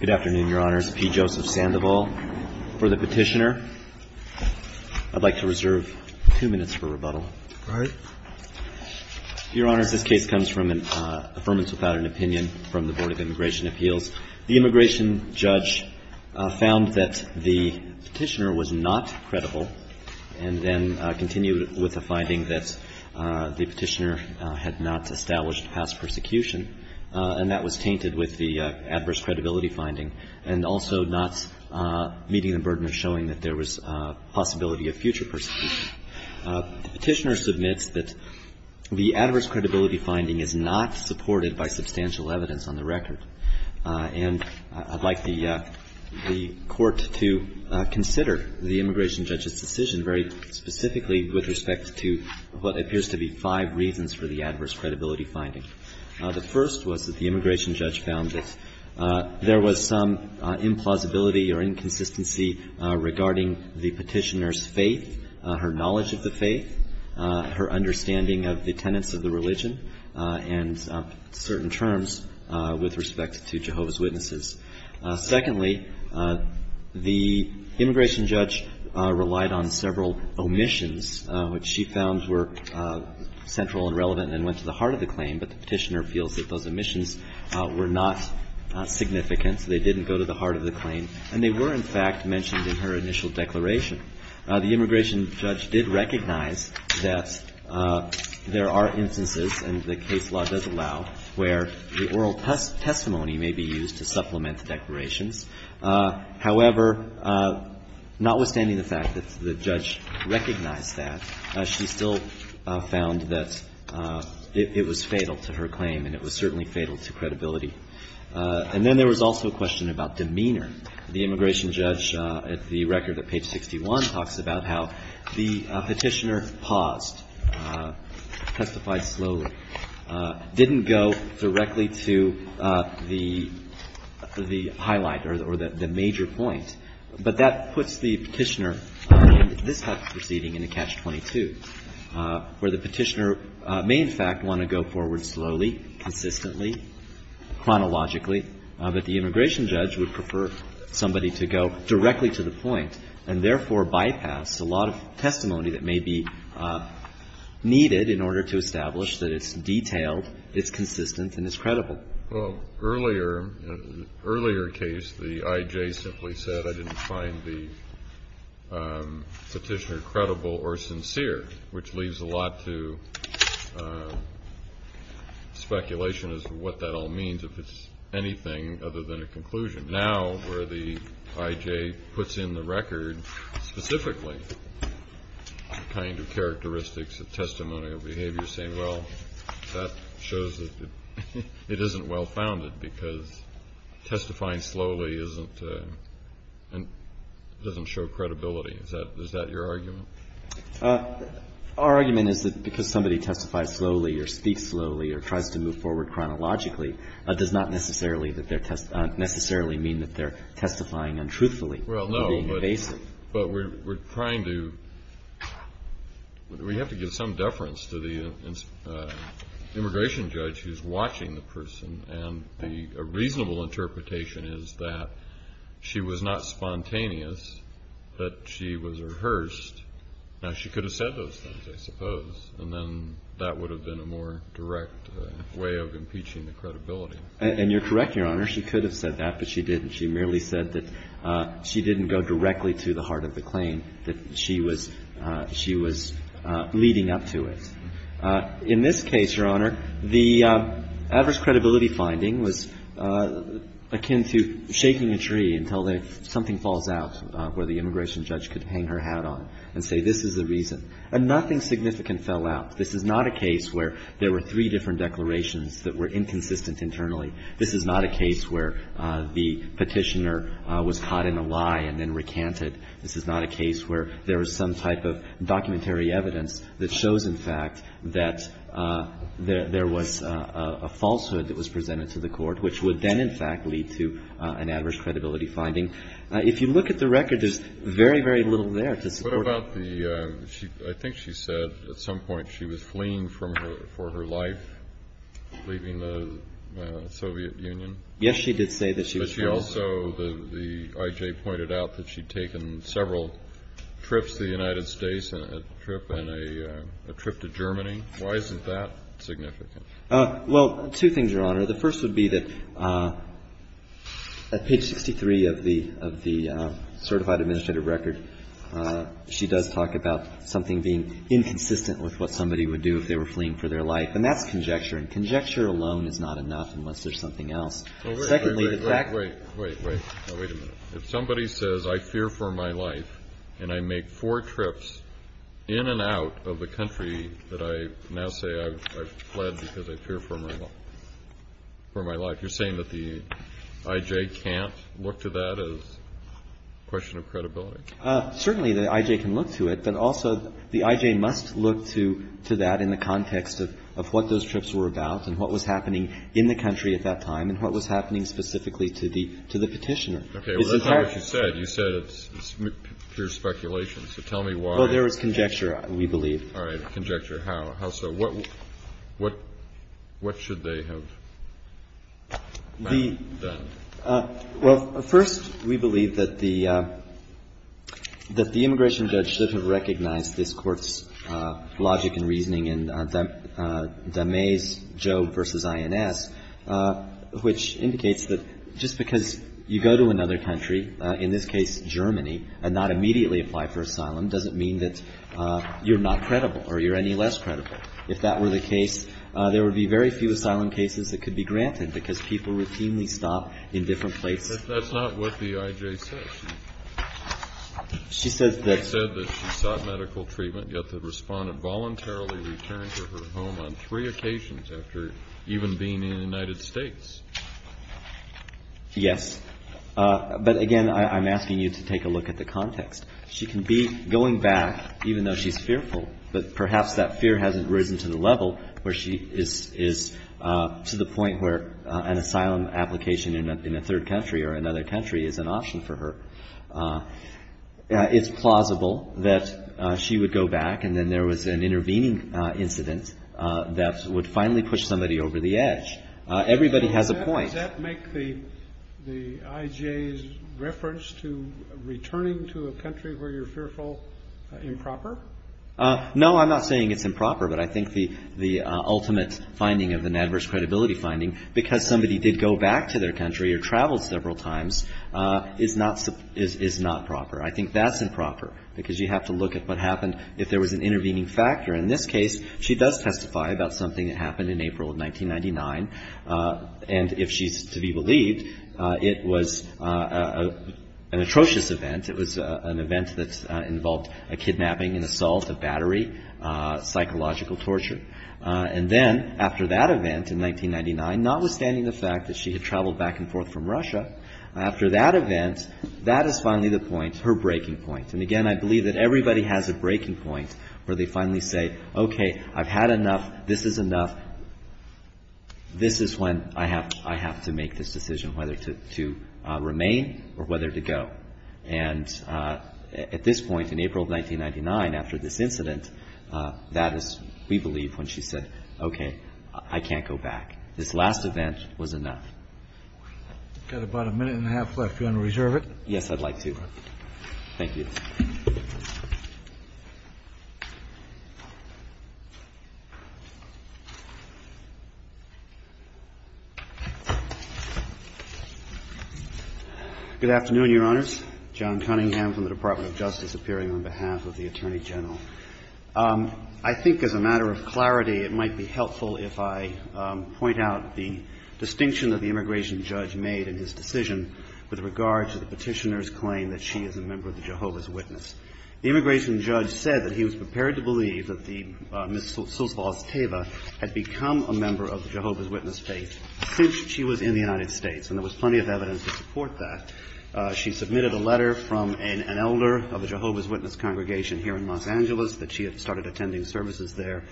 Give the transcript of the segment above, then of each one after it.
Good afternoon, Your Honors. P. Joseph Sandoval for the Petitioner. I'd like to reserve two minutes for rebuttal. Your Honors, this case comes from an affirmance without an opinion from the Board of Immigration Appeals. The immigration judge found that the Petitioner was not credible and then continued with a finding that the Petitioner had not established past persecution, and that was tainted with the adverse credibility finding, and also not meeting the burden of showing that there was a possibility of future persecution. The Petitioner submits that the adverse credibility finding is not supported by substantial evidence on the record, and I'd like the Court to consider the immigration judge's decision very specifically with respect to what appears to be five reasons for the adverse credibility finding. The first was that the immigration judge found that there was some implausibility or inconsistency regarding the Petitioner's faith, her knowledge of the faith, her understanding of the tenets of the religion, and certain terms with respect to Jehovah's Witnesses. Secondly, the immigration judge relied on several omissions, which she found were central and relevant and went to the heart of the claim, but the Petitioner feels that those omissions were not significant, so they didn't go to the heart of the claim. And they were, in fact, mentioned in her initial declaration. The immigration judge did recognize that there are instances, and the case law does allow, where the oral testimony may be used to supplement the declarations. However, notwithstanding the fact that the judge recognized that, she still found that it was fatal to her claim, and it was certainly fatal to credibility. And then there was also a question about demeanor. The immigration judge, at the record at page 61, talks about how the Petitioner paused, testified slowly, didn't go directly to the highlight or the major point. But that puts the Petitioner in this type of proceeding in a Catch-22, where the Petitioner may, in fact, want to go forward slowly, consistently, chronologically, but the immigration judge would prefer somebody to go directly to the point and, therefore, bypass a lot of testimony that may be needed in order to establish that it's detailed, it's consistent, and it's credible. Well, earlier, in an earlier case, the I.J. simply said, I didn't find the Petitioner credible or sincere, which leaves a lot to speculation as to what that all means, if it's anything other than a conclusion. Now, where the I.J. puts in the record, specifically, the kind of characteristics of testimonial behavior, saying, well, that shows that it isn't well-founded because testifying slowly isn't, doesn't show credibility. Is that your argument? Our argument is that because somebody testifies slowly or speaks slowly or tries to move forward chronologically does not necessarily mean that they're testifying untruthfully. Well, no, but we're trying to, we have to give some deference to the immigration judge who's watching the person, and a reasonable interpretation is that she was not spontaneous, that she was rehearsed. Now, she could have said those things, I suppose, and then that would have been a more direct way of impeaching the credibility. And you're correct, Your Honor. She could have said that, but she didn't. She merely said that she didn't go directly to the heart of the claim, that she was leading up to it. In this case, Your Honor, the adverse credibility finding was akin to shaking a tree until something falls out where the immigration judge could hang her hat on and say, this is the reason. And nothing significant fell out. This is not a case where there were three different declarations that were inconsistent internally. This is not a case where the Petitioner was caught in a lie and then recanted. This is not a case where there was some type of documentary evidence that shows, in fact, that there was a falsehood that was presented to the Court, which would then, in fact, lead to an adverse credibility finding. If you look at the record, there's very, very little there to support that. I think she said at some point she was fleeing for her life, leaving the Soviet Union. Yes, she did say that she was fleeing. But she also, the I.J. pointed out that she'd taken several trips to the United States and a trip to Germany. Why isn't that significant? Well, two things, Your Honor. The first would be that at page 63 of the certified administrative record, she does talk about something being inconsistent with what somebody would do if they were fleeing for their life. And that's conjecture. And conjecture alone is not enough unless there's something else. Secondly, the fact that ---- Wait, wait, wait. Wait a minute. If somebody says, I fear for my life and I make four trips in and out of the country that I now say I've fled because I fear for my life, you're saying that the I.J. can't look to that as a question of credibility? Certainly the I.J. can look to it, but also the I.J. must look to that in the context of what those trips were about and what was happening in the country at that time and what was happening specifically to the Petitioner. Okay. Well, that's not what you said. You said it's pure speculation. So tell me why. Well, there was conjecture, we believe. All right. Conjecture. How so? What should they have done? Well, first, we believe that the immigration judge should have recognized this Court's logic and reasoning in de Maize, Job v. INS, which indicates that just because you go to another country, in this case Germany, and not immediately apply for asylum doesn't mean that you're not credible or you're any less credible. If that were the case, there would be very few asylum cases that could be granted because people routinely stop in different places. But that's not what the I.J. said. She said that she sought medical treatment, yet the respondent voluntarily returned to her home on three occasions after even being in the United States. Yes. But, again, I'm asking you to take a look at the context. She can be going back, even though she's fearful, but perhaps that fear hasn't risen to the level where she is to the point where an asylum application in a third country or another country is an option for her. It's plausible that she would go back and then there was an intervening incident that would finally push somebody over the edge. Everybody has a point. Does that make the I.J.'s reference to returning to a country where you're fearful improper? No, I'm not saying it's improper, but I think the ultimate finding of an adverse credibility finding, because somebody did go back to their country or traveled several times, is not proper. I think that's improper because you have to look at what happened if there was an intervening factor. In this case, she does testify about something that happened in April of 1999. And if she's to be believed, it was an atrocious event. It was an event that involved a kidnapping, an assault, a battery, psychological torture. And then after that event in 1999, notwithstanding the fact that she had traveled back and forth from Russia, after that event, that is finally the point, her breaking point. And again, I believe that everybody has a breaking point where they finally say, okay, I've had enough, this is enough, this is when I have to make this decision whether to remain or whether to go. And at this point, in April of 1999, after this incident, that is, we believe, when she said, okay, I can't go back. This last event was enough. We've got about a minute and a half left. Do you want to reserve it? Yes, I'd like to. Thank you. Good afternoon, Your Honors. John Cunningham from the Department of Justice appearing on behalf of the Attorney General. I think as a matter of clarity, it might be helpful if I point out the distinction that the immigration judge made in his decision with regard to the Petitioner's being a member of the Jehovah's Witness. The immigration judge said that he was prepared to believe that Ms. Sulzbaugh-Esteva had become a member of the Jehovah's Witness faith since she was in the United States. And there was plenty of evidence to support that. She submitted a letter from an elder of a Jehovah's Witness congregation here in Los Angeles that she had started attending services there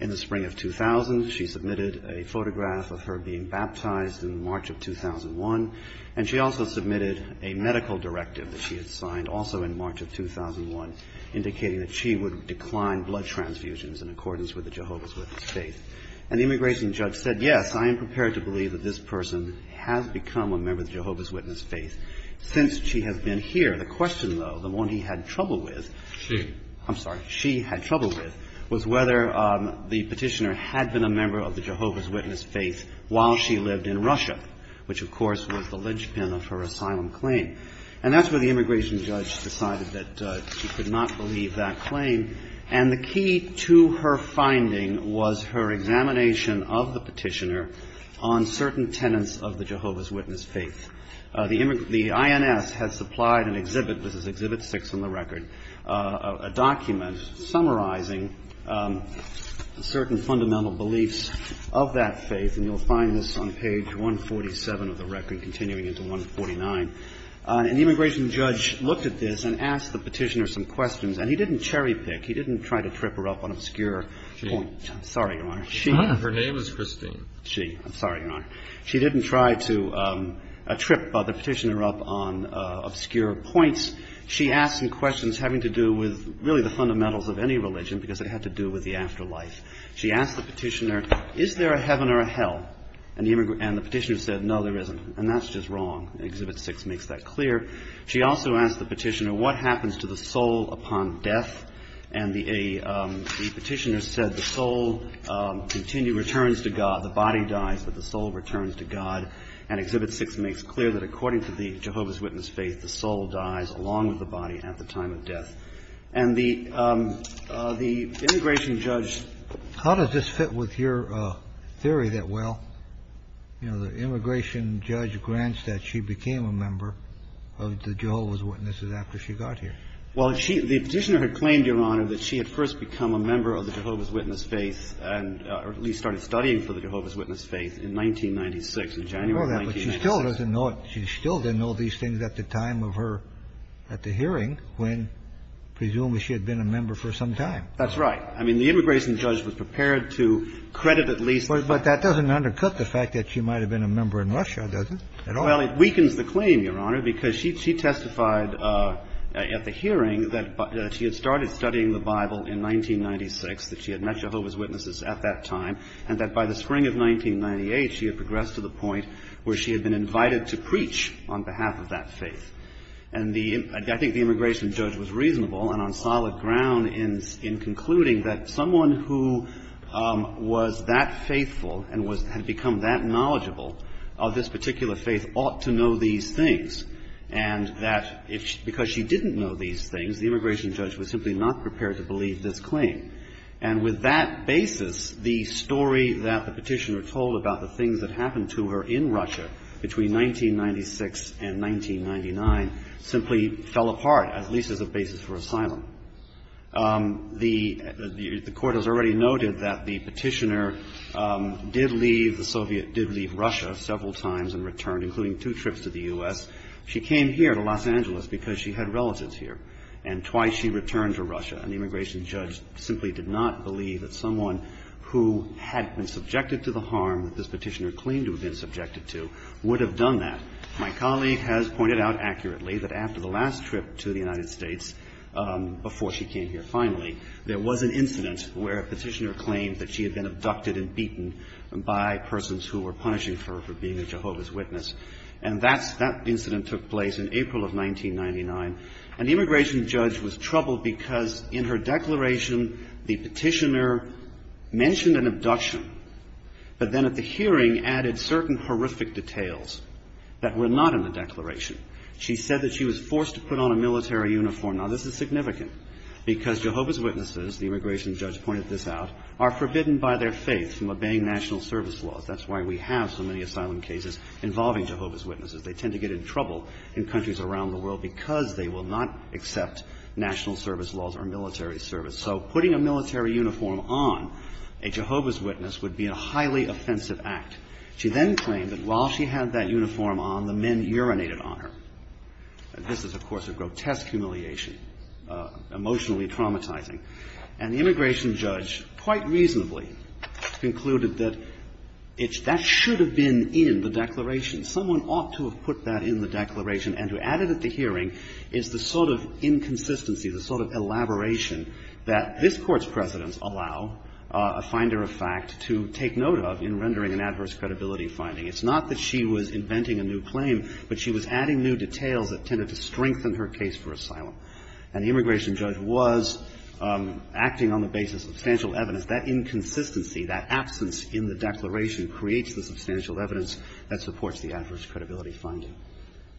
in the spring of 2000. She submitted a photograph of her being baptized in March of 2001. And she also submitted a medical directive that she had signed also in March of 2001 indicating that she would decline blood transfusions in accordance with the Jehovah's Witness faith. And the immigration judge said, yes, I am prepared to believe that this person has become a member of the Jehovah's Witness faith since she has been here. The question, though, the one he had trouble with, I'm sorry, she had trouble with, was whether the Petitioner had been a member of the Jehovah's Witness faith while she lived in Russia, which, of course, was the linchpin of her asylum claim. And that's where the immigration judge decided that she could not believe that claim. And the key to her finding was her examination of the Petitioner on certain tenets of the Jehovah's Witness faith. The INS has supplied an exhibit, this is exhibit six on the record, a document summarizing certain fundamental beliefs of that faith. And you'll find this on page 147 of the record, continuing into 149. And the immigration judge looked at this and asked the Petitioner some questions. And he didn't cherry-pick. He didn't try to trip her up on obscure points. I'm sorry, Your Honor. Kennedy. Her name is Christine. She. I'm sorry, Your Honor. She didn't try to trip the Petitioner up on obscure points. She asked some questions having to do with really the fundamentals of any religion because it had to do with the afterlife. She asked the Petitioner, is there a heaven or a hell? And the Petitioner said, no, there isn't. And that's just wrong. Exhibit six makes that clear. She also asked the Petitioner, what happens to the soul upon death? And the Petitioner said the soul continues, returns to God. The body dies, but the soul returns to God. And exhibit six makes it clear that according to the Jehovah's Witness faith, the soul dies along with the body at the time of death. And the immigration judge. How does this fit with your theory that, well, you know, the immigration judge grants that she became a member of the Jehovah's Witnesses after she got here? Well, the Petitioner had claimed, Your Honor, that she had first become a member of the Jehovah's Witness faith and at least started studying for the Jehovah's Witness faith in 1996, in January 1996. She still doesn't know it. She still didn't know these things at the time of her, at the hearing, when presumably she had been a member for some time. That's right. I mean, the immigration judge was prepared to credit at least. But that doesn't undercut the fact that she might have been a member in Russia, does it? Well, it weakens the claim, Your Honor, because she testified at the hearing that she had started studying the Bible in 1996, that she had met Jehovah's Witnesses at that time, and that by the spring of 1998 she had progressed to the point where she had been invited to preach on behalf of that faith. And the – I think the immigration judge was reasonable and on solid ground in concluding that someone who was that faithful and had become that knowledgeable of this particular faith ought to know these things, and that because she didn't know these things, the immigration judge was simply not prepared to believe this claim. And with that basis, the story that the Petitioner told about the things that happened to her in Russia between 1996 and 1999 simply fell apart, at least as a basis for asylum. The Court has already noted that the Petitioner did leave, the Soviet did leave Russia several times and returned, including two trips to the U.S. She came here to Los Angeles because she had relatives here, and twice she returned to Russia. And the immigration judge simply did not believe that someone who had been subjected to the harm that this Petitioner claimed to have been subjected to would have done that. My colleague has pointed out accurately that after the last trip to the United States, before she came here finally, there was an incident where a Petitioner claimed that she had been abducted and beaten by persons who were punishing her for being a Jehovah's Witness. And that's – that incident took place in April of 1999. And the immigration judge was troubled because in her declaration, the Petitioner mentioned an abduction, but then at the hearing added certain horrific details that were not in the declaration. She said that she was forced to put on a military uniform. Now, this is significant because Jehovah's Witnesses, the immigration judge pointed this out, are forbidden by their faith from obeying national service laws. That's why we have so many asylum cases involving Jehovah's Witnesses. They tend to get in trouble in countries around the world because they will not accept national service laws or military service. So putting a military uniform on a Jehovah's Witness would be a highly offensive act. She then claimed that while she had that uniform on, the men urinated on her. And this is, of course, a grotesque humiliation, emotionally traumatizing. And the immigration judge quite reasonably concluded that it's – that should have been in the declaration. Someone ought to have put that in the declaration. And to add it at the hearing is the sort of inconsistency, the sort of elaboration that this Court's precedents allow a finder of fact to take note of in rendering an adverse credibility finding. It's not that she was inventing a new claim, but she was adding new details that tended to strengthen her case for asylum. And the immigration judge was acting on the basis of substantial evidence. That inconsistency, that absence in the declaration creates the substantial evidence that supports the adverse credibility finding.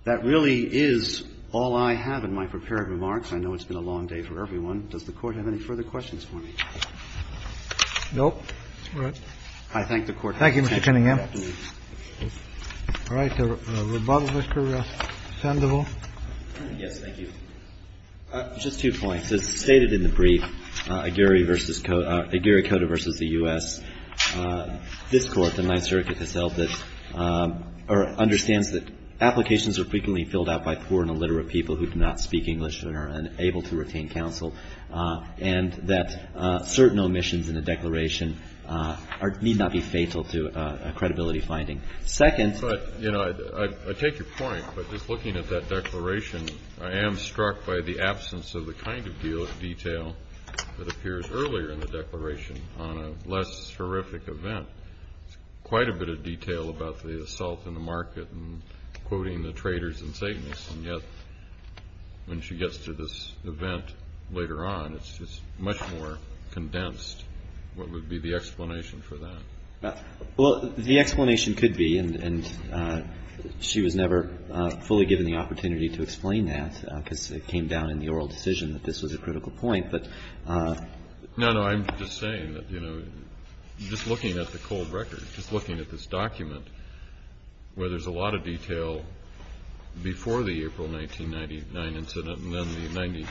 That really is all I have in my prepared remarks. I know it's been a long day for everyone. Does the Court have any further questions for me? No. All right. I thank the Court for its attention. Thank you, Mr. Cunningham. All right. The rebuttal, Mr. Sandoval. Yes. Thank you. Just two points. As stated in the brief, Aguirre v. Cota versus the U.S., this Court, the Ninth Circuit, has held that or understands that applications are frequently filled out by poor and illiterate people who do not speak English and are unable to retain counsel, and that certain omissions in the declaration need not be fatal to a credibility finding. Second ---- But, you know, I take your point, but just looking at that declaration, I am struck by the absence of the kind of detail that appears earlier in the declaration on a less horrific event. There's quite a bit of detail about the assault in the market and quoting the traitors and Satanists, and yet when she gets to this event later on, it's just much more condensed. What would be the explanation for that? Well, the explanation could be, and she was never fully given the opportunity to explain that because it came down in the oral decision that this was a critical point, but ---- No, no, I'm just saying that, you know, just looking at the cold record, just looking at this document where there's a lot of detail before the April 1999 incident and then the 90,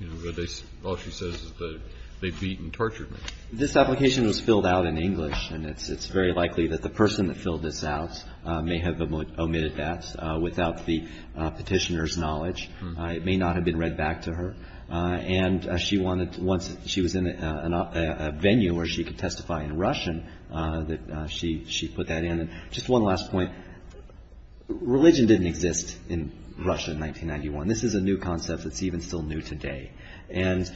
you know, all she says is that they beat and tortured me. This application was filled out in English, and it's very likely that the person that filled this out may have omitted that without the Petitioner's knowledge. It may not have been read back to her, and she wanted, once she was in a venue where she could testify in Russian, that she put that in. Just one last point. Religion didn't exist in Russia in 1991. This is a new concept that's even still new today, and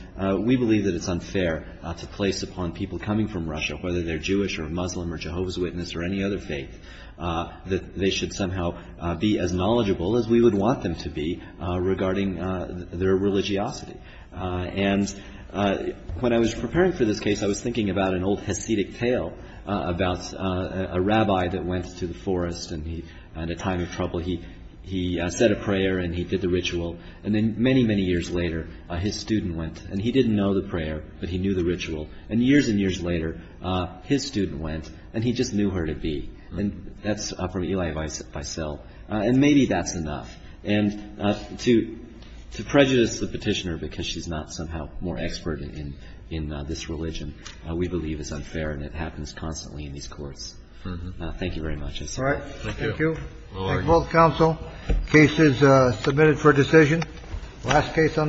we believe that it's unfair to place upon people coming from Russia, whether they're Jewish or Muslim or Jehovah's Witness or any other faith, that they should somehow be as knowledgeable as we would want them to be regarding their religiosity. And when I was preparing for this case, I was thinking about an old Hasidic tale about a rabbi that went to the forest, and he had a time of trouble. He said a prayer, and he did the ritual. And then many, many years later, his student went, and he didn't know the prayer, but he knew the ritual. And years and years later, his student went, and he just knew her to be. And that's from Elie Wiesel. And maybe that's enough. And to prejudice the petitioner because she's not somehow more expert in this religion, we believe is unfair, and it happens constantly in these courts. Thank you very much. Thank you. Thank you. Case is submitted for decision. Last case on the case.